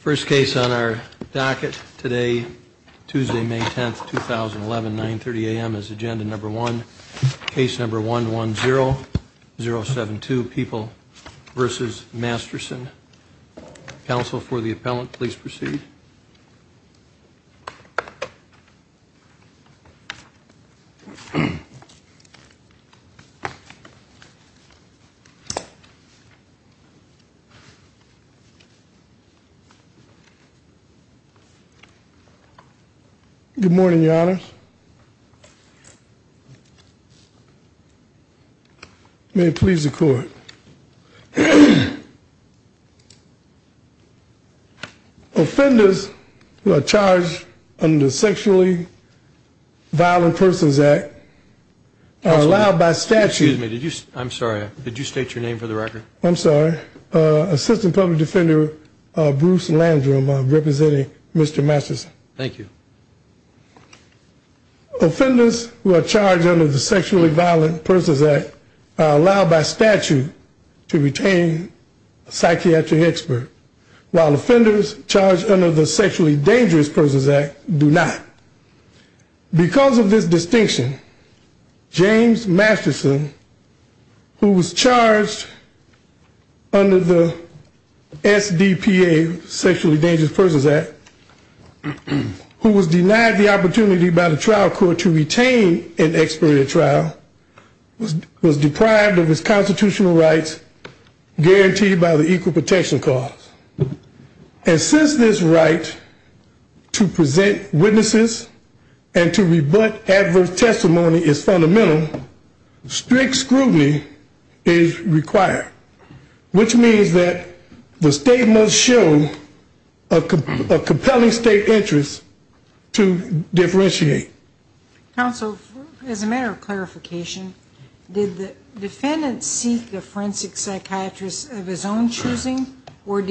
First case on our docket today, Tuesday, May 10th, 2011, 9.30 a.m. is agenda number one. Case number 110072, People v. Masterson. Counsel for the appellant, please proceed. Good morning, your honors. May it please the court. Offenders who are charged under the Sexually Violent Persons Act are allowed by statute. Excuse me, did you, I'm sorry, did you state your name for the record? I'm sorry, Assistant Public Defender Bruce Landrum representing Mr. Masterson. Thank you. Offenders who are charged under the Sexually Violent Persons Act are allowed by statute to retain a psychiatric expert, while offenders charged under the Sexually Dangerous Persons Act do not. Because of this distinction, James Masterson, who was charged under the SDPA, Sexually Dangerous Persons Act, who was denied the opportunity by the trial court to retain an expert at trial, was deprived of his constitutional rights guaranteed by the Equal Protection Clause. And since this right to present witnesses and to rebut adverse testimony is fundamental, strict scrutiny is required, which means that the state must show a compelling state interest to differentiate. Counsel, as a matter of clarification, did the defendant seek a forensic psychiatrist of his own choosing, and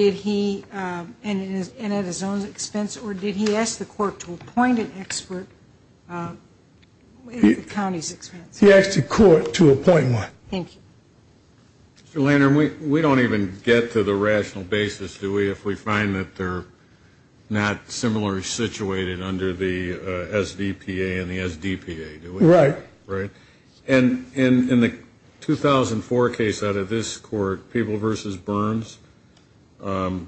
at his own expense, or did he ask the court to appoint an expert at the county's expense? He asked the court to appoint one. Thank you. Mr. Landrum, we don't even get to the rational basis, do we, if we find that they're not similarly situated under the SDPA and the SDPA, do we? Right. And in the 2004 case out of this court, People v. Burns, and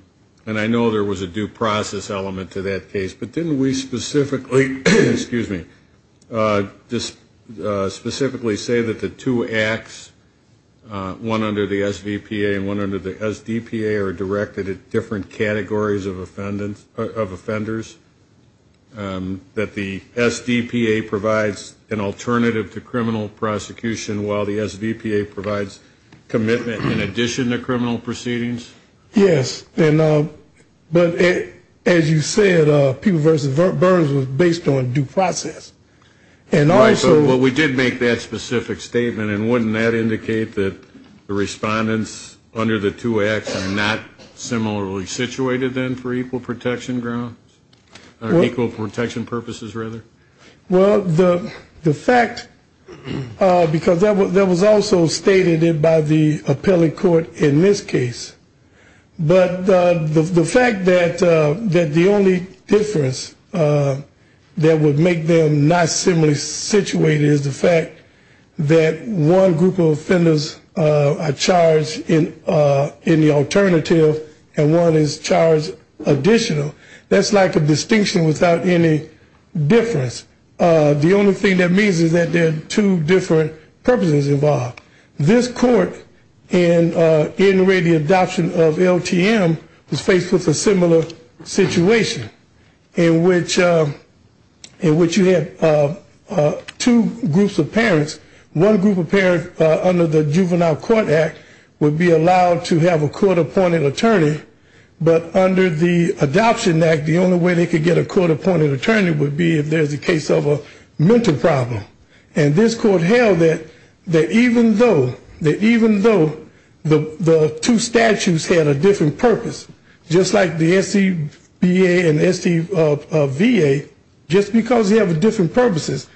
I know there was a due process element to that case, but didn't we specifically say that the two acts, one under the SVPA and one under the SDPA, are directed at different categories of offenders? That the SDPA provides an alternative to criminal prosecution, while the SVPA provides commitment in addition to criminal proceedings? Yes. But as you said, People v. Burns was based on due process. Right. But we did make that specific statement, and wouldn't that indicate that the respondents under the two acts are not similarly situated then for equal protection grounds? Or equal protection purposes, rather? Well, the fact, because that was also stated by the appellate court in this case, but the fact that the only difference that would make them not similarly situated is the fact that one group of offenders are charged in the alternative, and one is charged additional. That's like a distinction without any difference. The only thing that means is that there are two different purposes involved. This court in the adoption of LTM was faced with a similar situation, in which you had two groups of parents. One group of parents under the Juvenile Court Act would be allowed to have a court-appointed attorney, but under the Adoption Act, the only way they could get a court-appointed attorney would be if there was a case of a mental problem. And this court held that even though the two statutes had a different purpose, just like the SVPA and SVVA, just because they have different purposes,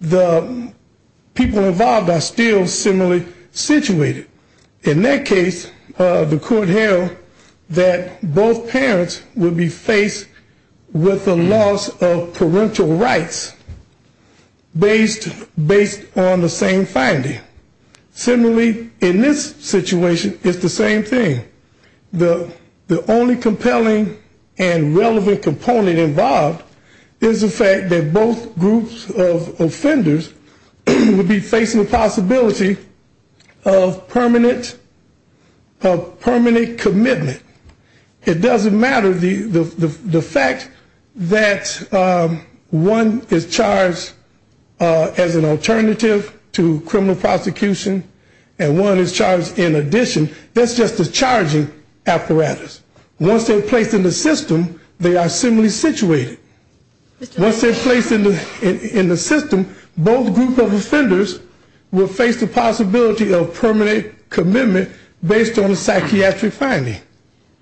the people involved are still similarly situated. In that case, the court held that both parents would be faced with a loss of parental rights, based on the same finding. Similarly, in this situation, it's the same thing. The only compelling and relevant component involved is the fact that both groups of offenders would be facing the possibility of permanent commitment. It doesn't matter the fact that one is charged as an alternative to criminal prosecution and one is charged in addition, that's just a charging apparatus. Once they're placed in the system, they are similarly situated. Once they're placed in the system, both groups of offenders will face the possibility of permanent commitment, based on a psychiatric finding.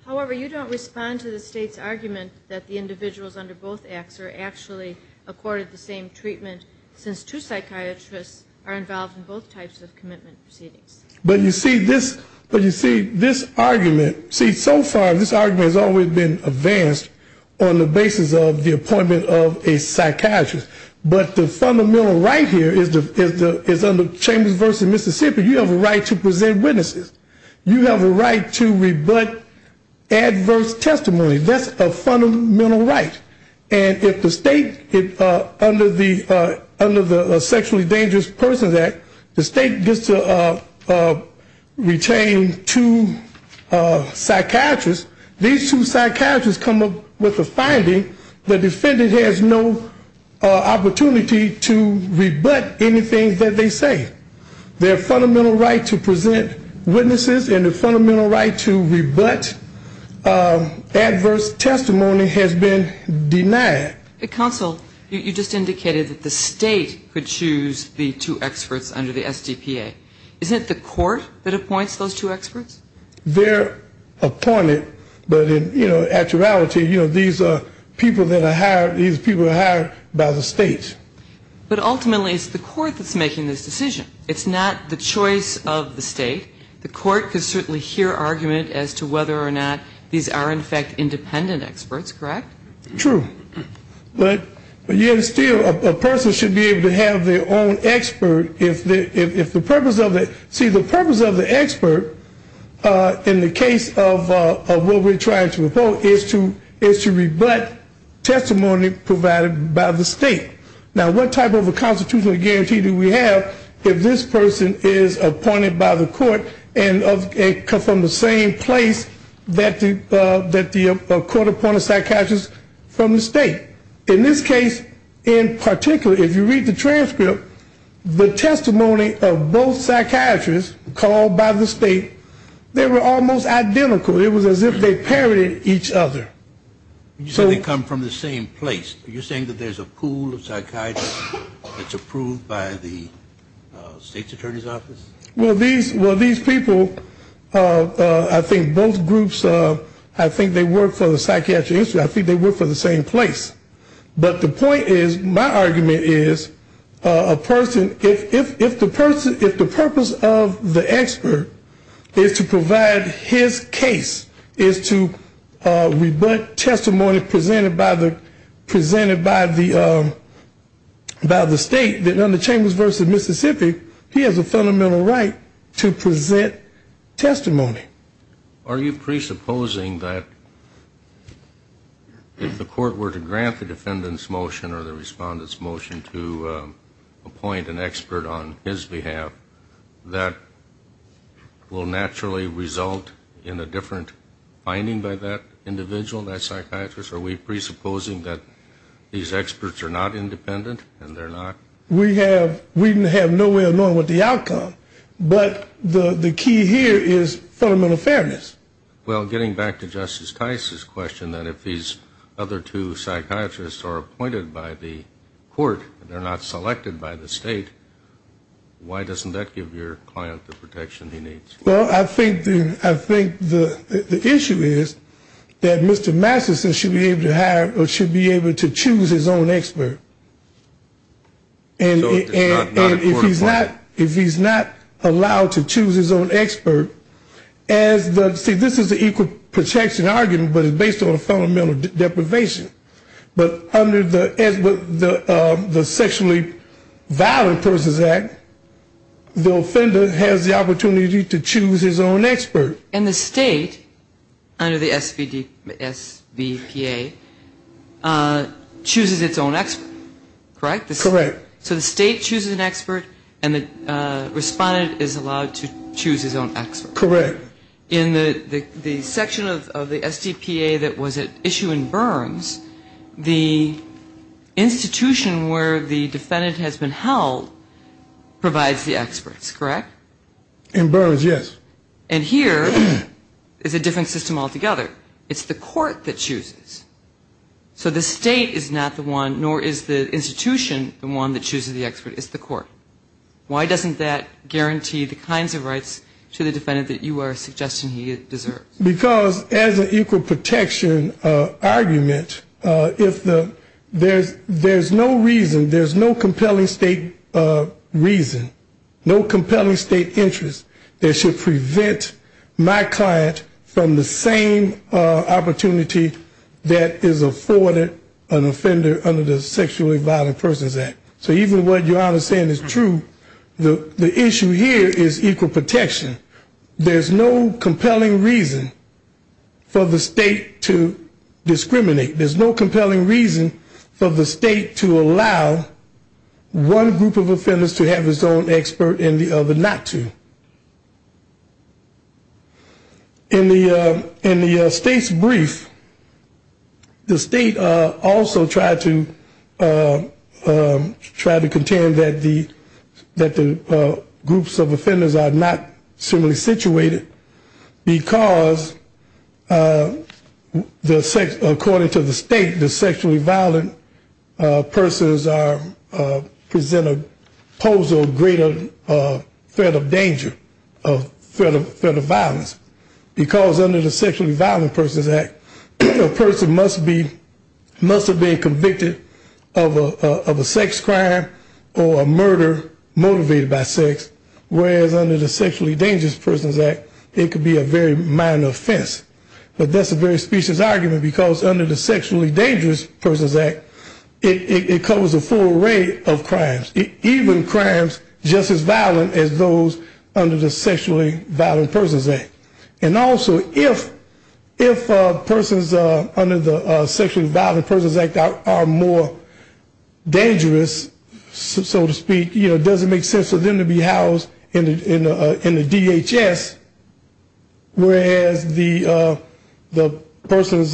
However, you don't respond to the state's argument that the individuals under both acts are actually accorded the same treatment, since two psychiatrists are involved in both types of commitment proceedings. But you see, this argument, so far this argument has always been advanced on the basis of the appointment of a psychiatrist. But the fundamental right here is under Chambers v. Mississippi, you have a right to present witnesses. You have a right to rebut adverse testimony. That's a fundamental right. And if the state, under the Sexually Dangerous Persons Act, the state gets to retain two psychiatrists, these two psychiatrists come up with the finding the defendant has no opportunity to rebut anything that they say. Their fundamental right to present witnesses and the fundamental right to rebut adverse testimony has been denied. Counsel, you just indicated that the state could choose the two experts under the SDPA. Isn't it the court that appoints those two experts? They're appointed, but in actuality, you know, these are people that are hired, these people are hired by the state. But ultimately it's the court that's making this decision. It's not the choice of the state. The court can certainly hear argument as to whether or not these are, in fact, independent experts, correct? True. But yet still, a person should be able to have their own expert if the purpose of it, see, the purpose of the expert in the case of what we're trying to report is to rebut testimony provided by the state. Now, what type of a constitutional guarantee do we have if this person is appointed by the court and comes from the same place that the court appointed a psychiatrist from the state? In this case, in particular, if you read the transcript, the testimony of both psychiatrists called by the state, they were almost identical. It was as if they parroted each other. You said they come from the same place. Are you saying that there's a pool of psychiatrists that's approved by the state's attorney's office? Well, these people, I think both groups, I think they work for the psychiatry industry. I think they work for the same place. But the point is, my argument is, a person, if the purpose of the expert is to provide his case, is to rebut his testimony, if the purpose of his testimony is to rebut his testimony, then he's not a psychiatrist. If he's going to rebut testimony presented by the state, then under Chambers v. Mississippi, he has a fundamental right to present testimony. Are you presupposing that if the court were to grant the defendant's motion or the respondent's motion to appoint an expert on his behalf, that will naturally result in a different finding by that individual? Are we presupposing that these experts are not independent and they're not? We have no way of knowing what the outcome, but the key here is fundamental fairness. Well, getting back to Justice Tice's question, that if these other two psychiatrists are appointed by the court, they're not selected by the state, why doesn't that give your client the protection he needs? Well, I think the issue is that Mr. Masterson should be able to choose his own expert, and if he's not allowed to choose his own expert, see, this is an equal protection argument, but it's based on a fundamental deprivation. But under the Sexually Violent Persons Act, the offender has the opportunity to choose his own expert. And the state, under the SVPA, chooses its own expert, correct? Correct. So the state chooses an expert and the respondent is allowed to choose his own expert. Correct. In the section of the SDPA that was at issue in Burns, the institution where the defendant has been held provides the experts, correct? In Burns, yes. And here is a different system altogether. It's the court that chooses. So the state is not the one, nor is the institution the one that chooses the expert, it's the court. Why doesn't that guarantee the kinds of rights to the defendant that you are suggesting he deserves? Because as an equal protection argument, if there's no reason, there's no compelling state reason, no compelling state argument, there's no compelling state argument. There's no compelling state interest that should prevent my client from the same opportunity that is afforded an offender under the Sexually Violent Persons Act. So even what your Honor is saying is true, the issue here is equal protection. There's no compelling reason for the state to discriminate. There's no compelling reason for the state to allow one group of offenders to have its own expert and the other not to. In the state's brief, the state also tried to contend that the groups of offenders are not similarly situated, because according to the state, the sexually violent persons present a pose of greater threat of violence. Because under the Sexually Violent Persons Act, a person must have been convicted of a sex crime or a murder motivated by sex, whereas under the Sexually Dangerous Persons Act, it could be a very minor offense. But that's a very specious argument, because under the Sexually Dangerous Persons Act, it covers a full array of crimes. Even crimes just as violent as those under the Sexually Violent Persons Act. And also, if persons under the Sexually Violent Persons Act are more dangerous, so to speak, it doesn't make sense for them to be housed in the DHS, whereas the persons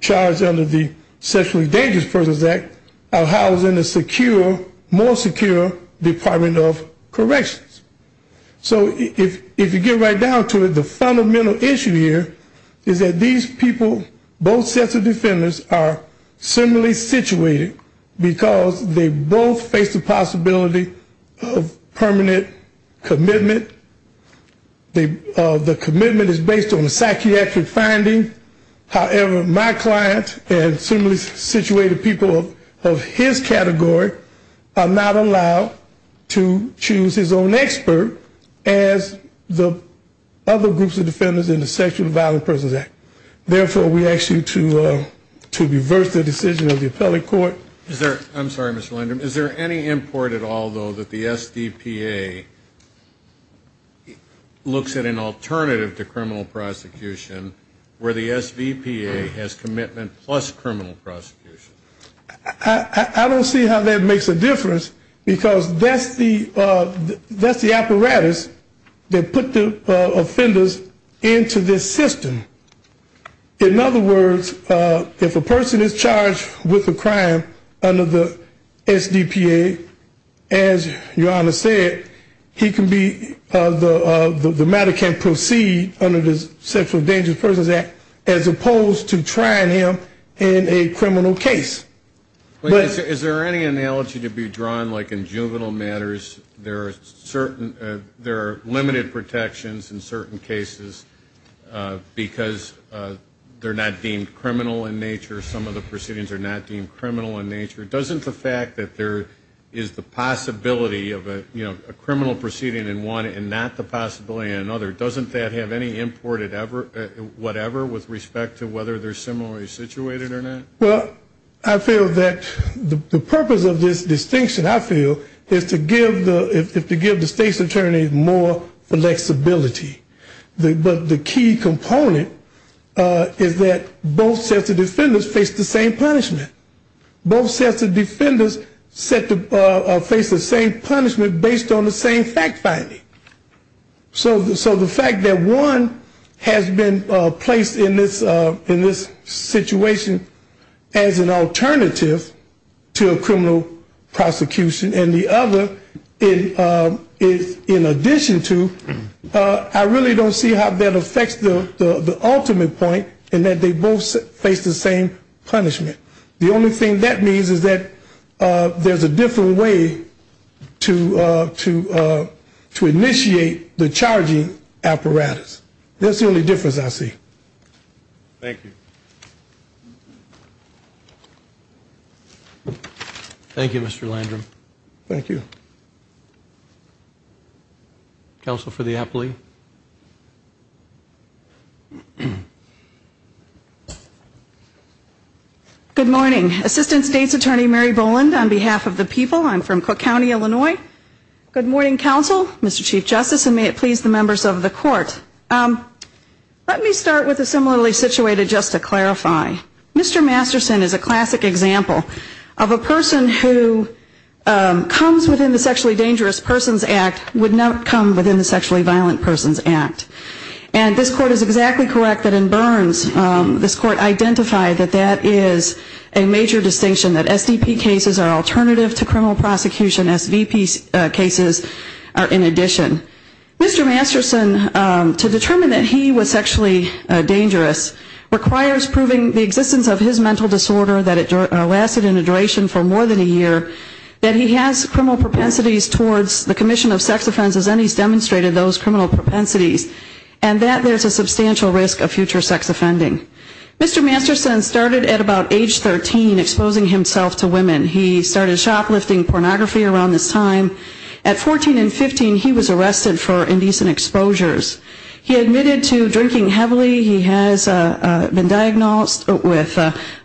charged under the Sexually Dangerous Persons Act are housed in a secure, more secure facility. So if you get right down to it, the fundamental issue here is that these people, both sets of defendants, are similarly situated, because they both face the possibility of permanent commitment. The commitment is based on a psychiatric finding. However, my client and similarly situated people of his category are not allowed to choose his own expert as the other groups of defendants in the Sexually Violent Persons Act. Therefore, we ask you to reverse the decision of the appellate court. I'm sorry, Mr. Landrum. Is there any import at all, though, that the SDPA looks at an alternative to criminal prosecution, where the SVPA has commitment plus criminal prosecution? I don't see how that makes a difference, because that's the apparatus that put the offenders into this system. In other words, if a person is charged with a crime under the SDPA, they are not allowed to choose their own expert. As your Honor said, he can be, the matter can proceed under the Sexually Dangerous Persons Act, as opposed to trying him in a criminal case. Is there any analogy to be drawn, like in juvenile matters, there are certain, there are limited protections in certain cases, because they're not deemed criminal in nature, some of the proceedings are not deemed criminal in nature. Doesn't the fact that there is the possibility of a criminal proceeding in one and not the possibility in another, doesn't that have any import at whatever with respect to whether they're similarly situated or not? Well, I feel that the purpose of this distinction, I feel, is to give the state's attorneys more flexibility. But the key component is that both sets of defendants face the same punishment. Both sets of defendants face the same punishment based on the same fact finding. So the fact that one has been placed in this situation as an alternative to a criminal prosecution, and the other in addition to, I really don't see how that affects the ultimate point in that they both face the same punishment. The only thing that means is that there's a different way to initiate the charging apparatus. That's the only difference I see. Thank you, Mr. Landrum. Thank you. Counsel for the appellee. Good morning. Assistant State's Attorney Mary Boland on behalf of the people. I'm from Cook County, Illinois. Good morning, counsel, Mr. Chief Justice, and may it please the members of the court. Let me start with the similarly situated just to clarify. Mr. Masterson is a classic example of a person who comes within the Sexually Dangerous Persons Act, would not come within the Sexually Violent Persons Act. And this court is exactly correct that in Burns, this court identified that that is a major distinction, that SDP cases are alternative to criminal prosecution. SVP cases are in addition. Mr. Masterson, to determine that he was sexually dangerous requires proving the existence of his mental disorder, that it lasted in a duration for more than a year, that he has criminal propensities towards the commission of sex offenses, and he's demonstrated those criminal propensities, and that there's a substantial risk of future sex offending. Mr. Masterson started at about age 13 exposing himself to women. He started shoplifting pornography around this time. At 14 and 15, he was arrested for indecent exposures. He admitted to drinking heavily. He has been diagnosed with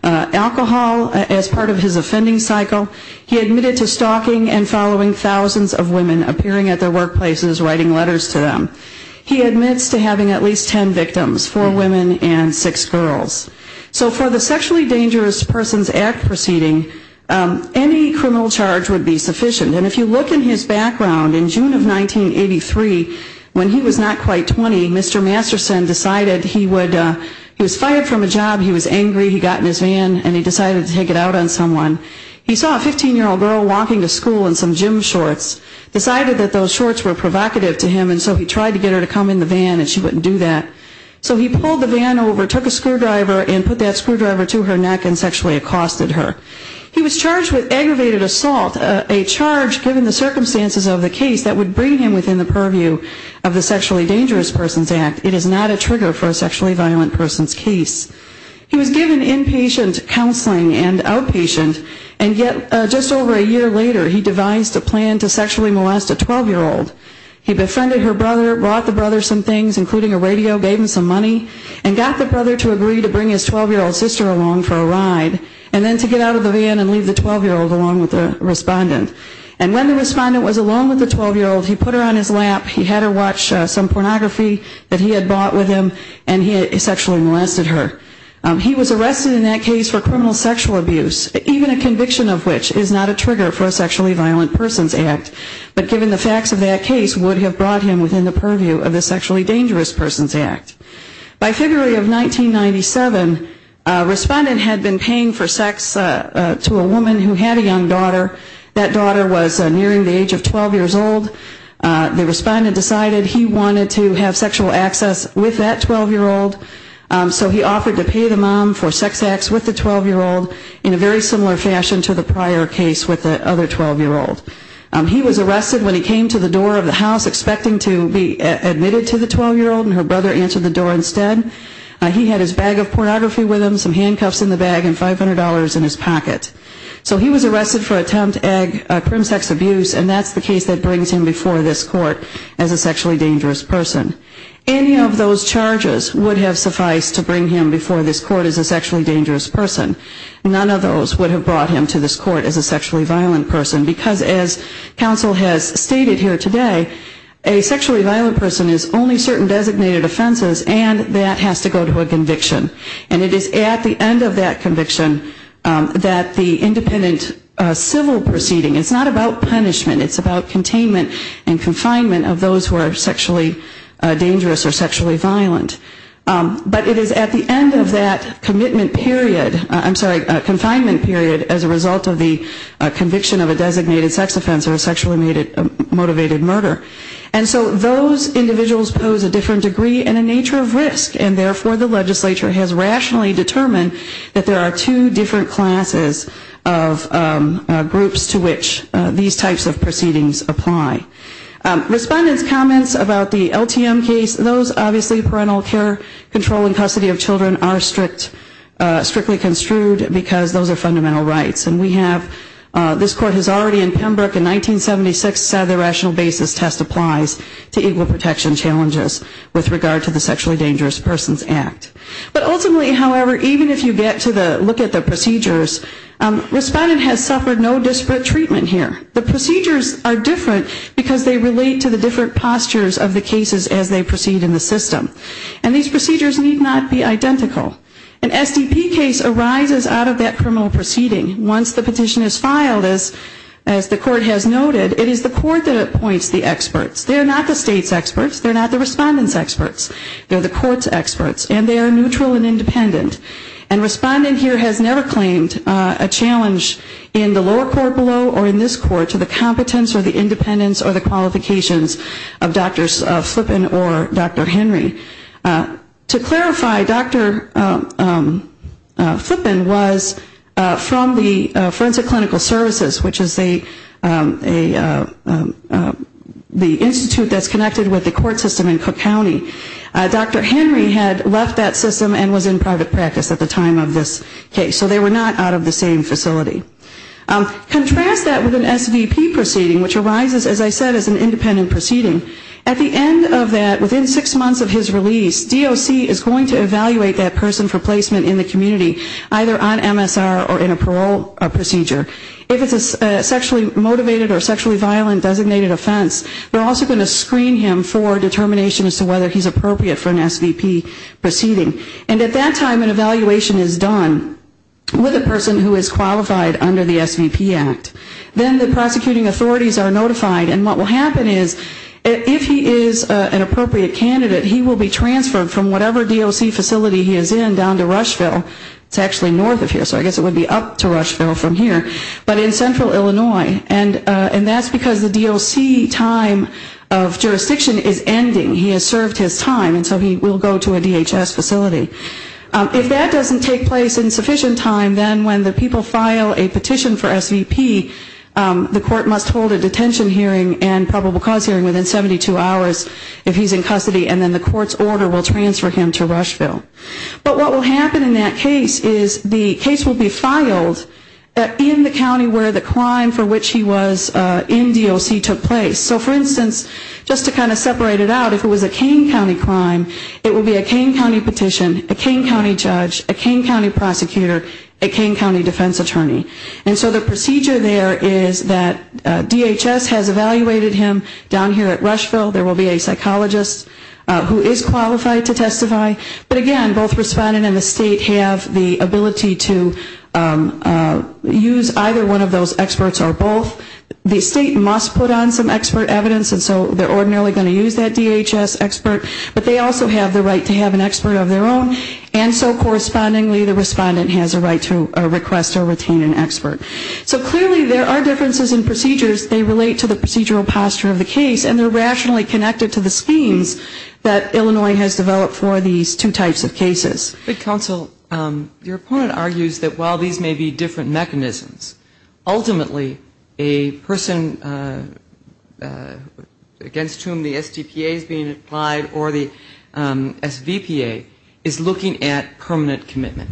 alcohol as part of his offending cycle. He admitted to stalking and following thousands of women, appearing at their workplaces, writing letters to them. He admits to having at least ten victims, four women and six girls. So for the Sexually Dangerous Persons Act proceeding, any criminal charge would be sufficient. And if you look in his background, in June of 1983, when he was not quite 20, Mr. Masterson decided he would, he was fired from a job, he was angry, he got in his van and he decided to take it out on someone. He saw a 15-year-old girl walking to school in some gym shorts, decided that those shorts were provocative to him and so he tried to get her to come in the van and she wouldn't do that. So he pulled the van over, took a screwdriver and put that screwdriver to her neck and sexually accosted her. He was charged with aggravated assault, a charge given the circumstances of the case that would bring him within the purview of the Sexually Dangerous Persons Act. It is not a trigger for a sexually violent person's case. He was given inpatient counseling and outpatient and yet just over a year later he devised a plan to sexually molest a 12-year-old. He befriended her brother, brought the brother some things, including a radio, gave him some money and got the brother to agree to bring his 12-year-old sister along for a ride. And then to get out of the van and leave the 12-year-old along with the respondent. And when the respondent was alone with the 12-year-old, he put her on his lap, he had her watch some pornography that he had bought with him and he sexually molested her. He was arrested in that case for criminal sexual abuse, even a conviction of which is not a trigger for a sexually violent person's act. But given the facts of that case would have brought him within the purview of the Sexually Dangerous Persons Act. By February of 1997, a respondent had been paying for sex to a woman who had a young daughter. That daughter was nearing the age of 12 years old. The respondent decided he wanted to have sexual access with that 12-year-old. So he offered to pay the mom for sex acts with the 12-year-old in a very similar fashion to the prior case with the other 12-year-old. He was arrested when he came to the door of the house expecting to be admitted to the 12-year-old and her brother answered the door instead. He had his bag of pornography with him, some handcuffs in the bag and $500 in his pocket. So he was arrested for attempt ag crim sex abuse and that's the case that brings him before this court as a sexually dangerous person. Any of those charges would have sufficed to bring him before this court as a sexually dangerous person. None of those would have brought him to this court as a sexually violent person. Because as counsel has stated here today, a sexually violent person is only certain designated offenses and that has to go to a conviction. And it is at the end of that conviction that the independent civil proceeding, it's not about punishment. It's about containment and confinement of those who are sexually dangerous or sexually violent. But it is at the end of that commitment period, I'm sorry, confinement period as a result of the conviction of a designated sex offense or a sexually motivated murder. And so those individuals pose a different degree and a nature of risk and therefore the legislature has rationally determined that there are two different classes of groups to which these types of proceedings apply. Respondent's comments about the LTM case, those obviously parental care control and custody of children are strictly construed because those are fundamental rights. And we have, this court has already in Pembroke in 1976 said the rational basis test applies to equal protection challenges with regard to the sexually dangerous persons act. But ultimately, however, even if you get to look at the procedures, respondent has suffered no disparate treatment here. The procedures are different because they relate to the different postures of the cases as they proceed in the system. And these procedures need not be identical. An SDP case arises out of that criminal proceeding. Once the petition is filed, as the court has noted, it is the court that appoints the experts. They are not the state's experts. They are not the respondent's experts. They are the court's experts. And they are neutral and independent. And respondent here has never claimed a challenge in the lower court below or in this court to the competence or the independence or the qualifications of Dr. Flippen was from the forensic clinical services, which is the institute that's connected with the court system in Cook County. Dr. Henry had left that system and was in private practice at the time of this case. So they were not out of the same facility. Contrast that with an SVP proceeding, which arises, as I said, as an independent proceeding. At the end of that, within six months of his release, DOC is going to evaluate that person for placement in the community, either on MSR or in a parole procedure. If it's a sexually motivated or sexually violent designated offense, they're also going to screen him for determination as to whether he's appropriate for an SVP proceeding. And at that time an evaluation is done with a person who is qualified under the SVP Act. Then the prosecuting authorities are notified. And what will happen is if he is an appropriate candidate, he will be transferred from whatever DOC facility he is in down to Rushville. It's actually north of here, so I guess it would be up to Rushville from here. But in central Illinois. And that's because the DOC time of jurisdiction is ending. He has served his time, and so he will go to a DHS facility. If that doesn't take place in sufficient time, then when the people file a petition for SVP, the court must hold a detention hearing and probable cause hearing within 72 hours if he's in custody, and then the court's order will transfer him to Rushville. But what will happen in that case is the case will be filed in the county where the crime for which he was in DOC took place. So for instance, just to kind of separate it out, if it was a Kane County crime, it would be a Kane County petition, a Kane County judge, a Kane County prosecutor, a Kane County defense attorney. And so the procedure there is that DHS has evaluated him down here at Rushville. There will be a psychologist who is qualified to testify. But again, both respondent and the state have the ability to use either one of those experts or both. The state must put on some expert evidence, and so they're ordinarily going to use that DHS expert. But they also have the right to have an expert of their own. And so correspondingly, the respondent has a right to request or retain an expert. So clearly there are differences in procedures. They relate to the procedural posture of the case, and they're rationally connected to the schemes that Illinois has developed for these two types of cases. But counsel, your opponent argues that while these may be different mechanisms, ultimately a person against whom the STPA is being applied or the SVPA is looking at permanent commitment.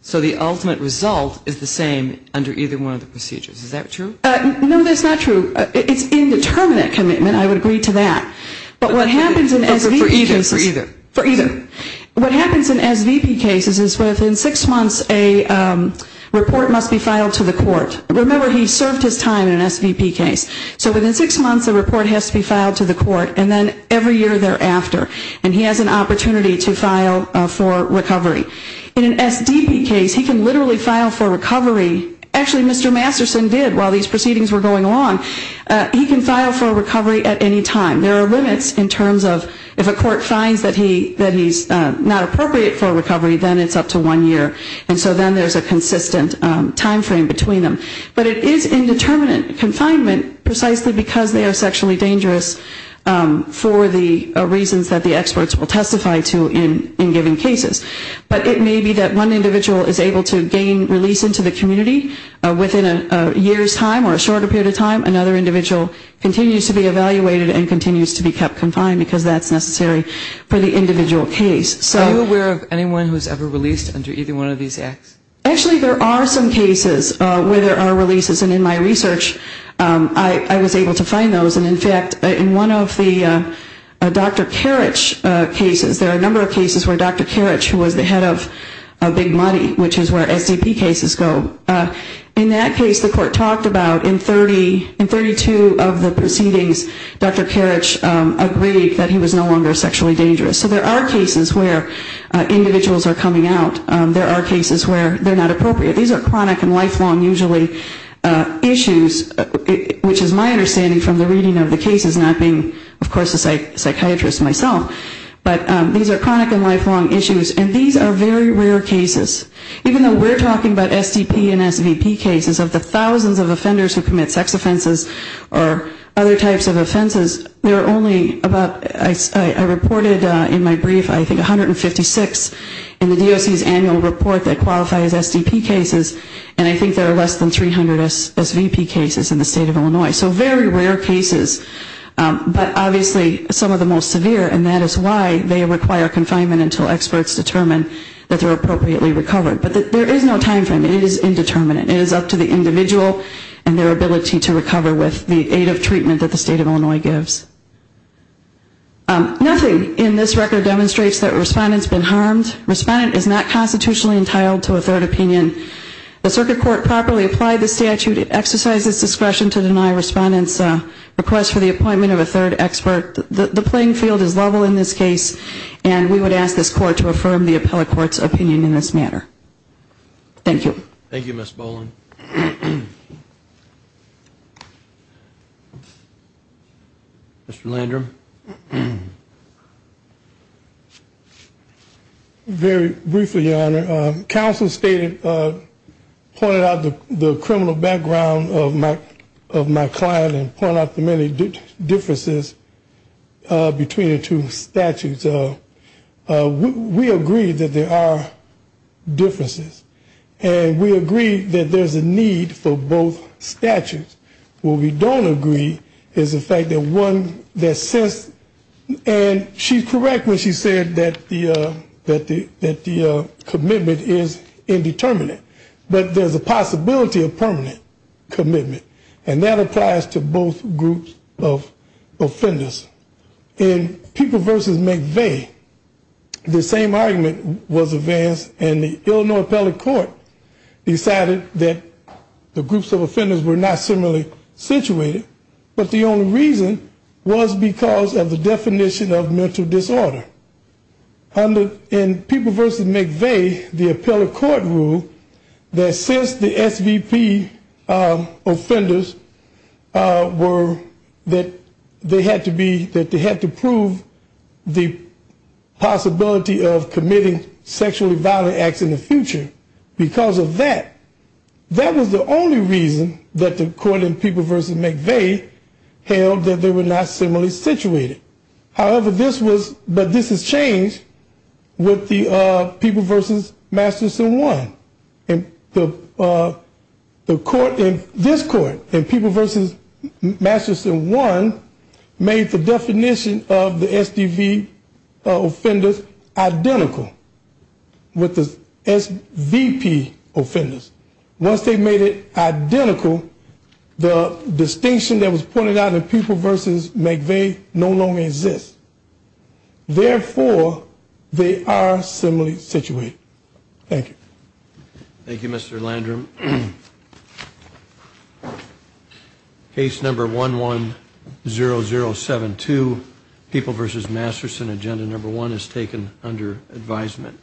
So the ultimate result is the same under either one of the procedures. Is that true? No, that's not true. It's indeterminate commitment. I would agree to that. But what happens in SVP cases is within six months a report must be filed to the court. Remember, he served his time in an SVP case. So within six months a report has to be filed to the court, and then every year thereafter. And he has an opportunity to file for recovery. In an SDP case, he can literally file for recovery. Actually, Mr. Masterson did while these proceedings were going on. He can file for recovery at any time. There are limits in terms of if a court finds that he's not appropriate for recovery, then it's up to one year. And so then there's a consistent time frame between them. But it is indeterminate confinement precisely because they are sexually dangerous for the reasons that the experts will testify to in given cases. But it may be that one individual is able to gain release into the community within a year's time or a shorter period of time. Another individual continues to be evaluated and continues to be kept confined because that's necessary for the individual case. So... Are you aware of anyone who's ever released under either one of these acts? Actually, there are some cases where there are releases. And in my research, I was able to find those. And in fact, in one of the Dr. Karich cases, there are a number of cases where Dr. Karich, who was the head of Big Money, which is where SDP cases go. In that case, the court talked about in 32 of the proceedings, Dr. Karich agreed that he was no longer sexually dangerous. So there are cases where individuals are coming out. There are cases where they're not appropriate. These are chronic and lifelong, usually, issues, which is my understanding from the reading of the cases, not being, of course, a psychiatrist myself. But these are chronic and lifelong issues. And these are very rare cases. Even though we're talking about SDP and SVP cases, of the thousands of offenders who commit sex offenses or other types of offenses, there are only about, I reported in my brief, I think 156 in the DOC's annual report that qualifies as SDP cases. And I think there are less than 300 SVP cases in the state of Illinois. So very rare cases, but obviously some of the most severe, and that is why they require confinement until experts determine that they're appropriately recovered. But there is no time frame. It is indeterminate. It is up to the individual and their ability to recover with the aid of treatment that the state of Illinois gives. Nothing in this record demonstrates that a respondent's been harmed. Respondent is not constitutionally entitled to a third opinion. The circuit court properly applied the statute. It exercises discretion to deny respondent's request for the appointment of a third expert. The playing field is level in this case, and we would ask this court to affirm the appellate court's opinion in this matter. Mr. Landrum. Very briefly, Your Honor. Counsel stated, pointed out the criminal background of my client and pointed out the many differences between the two statutes. We agree that there are differences. And we agree that there's a need for both statutes. What we don't agree is the fact that one that says, and she's correct when she said that the commitment is indeterminate. But there's a possibility of permanent commitment. And that applies to both groups of offenders. In People v. McVeigh, the same argument was advanced, and the Illinois appellate court decided that the groups of offenders were not necessarily situated, but the only reason was because of the definition of mental disorder. In People v. McVeigh, the appellate court ruled that since the SVP offenders were, that they had to prove the possibility of committing sexually violent acts in the future because of that. That was the only reason that the court in People v. McVeigh held that they were not similarly situated. However, this was, but this has changed with the People v. Masterson 1. This court in People v. Masterson 1 made the definition of the SDV offenders identical with the SVP offenders. Once they made it identical, the distinction that was pointed out in People v. McVeigh no longer exists. Therefore, they are similarly situated. Thank you. Thank you, Mr. Landrum. Case number 110072, People v. Masterson, agenda number one is taken under advisement.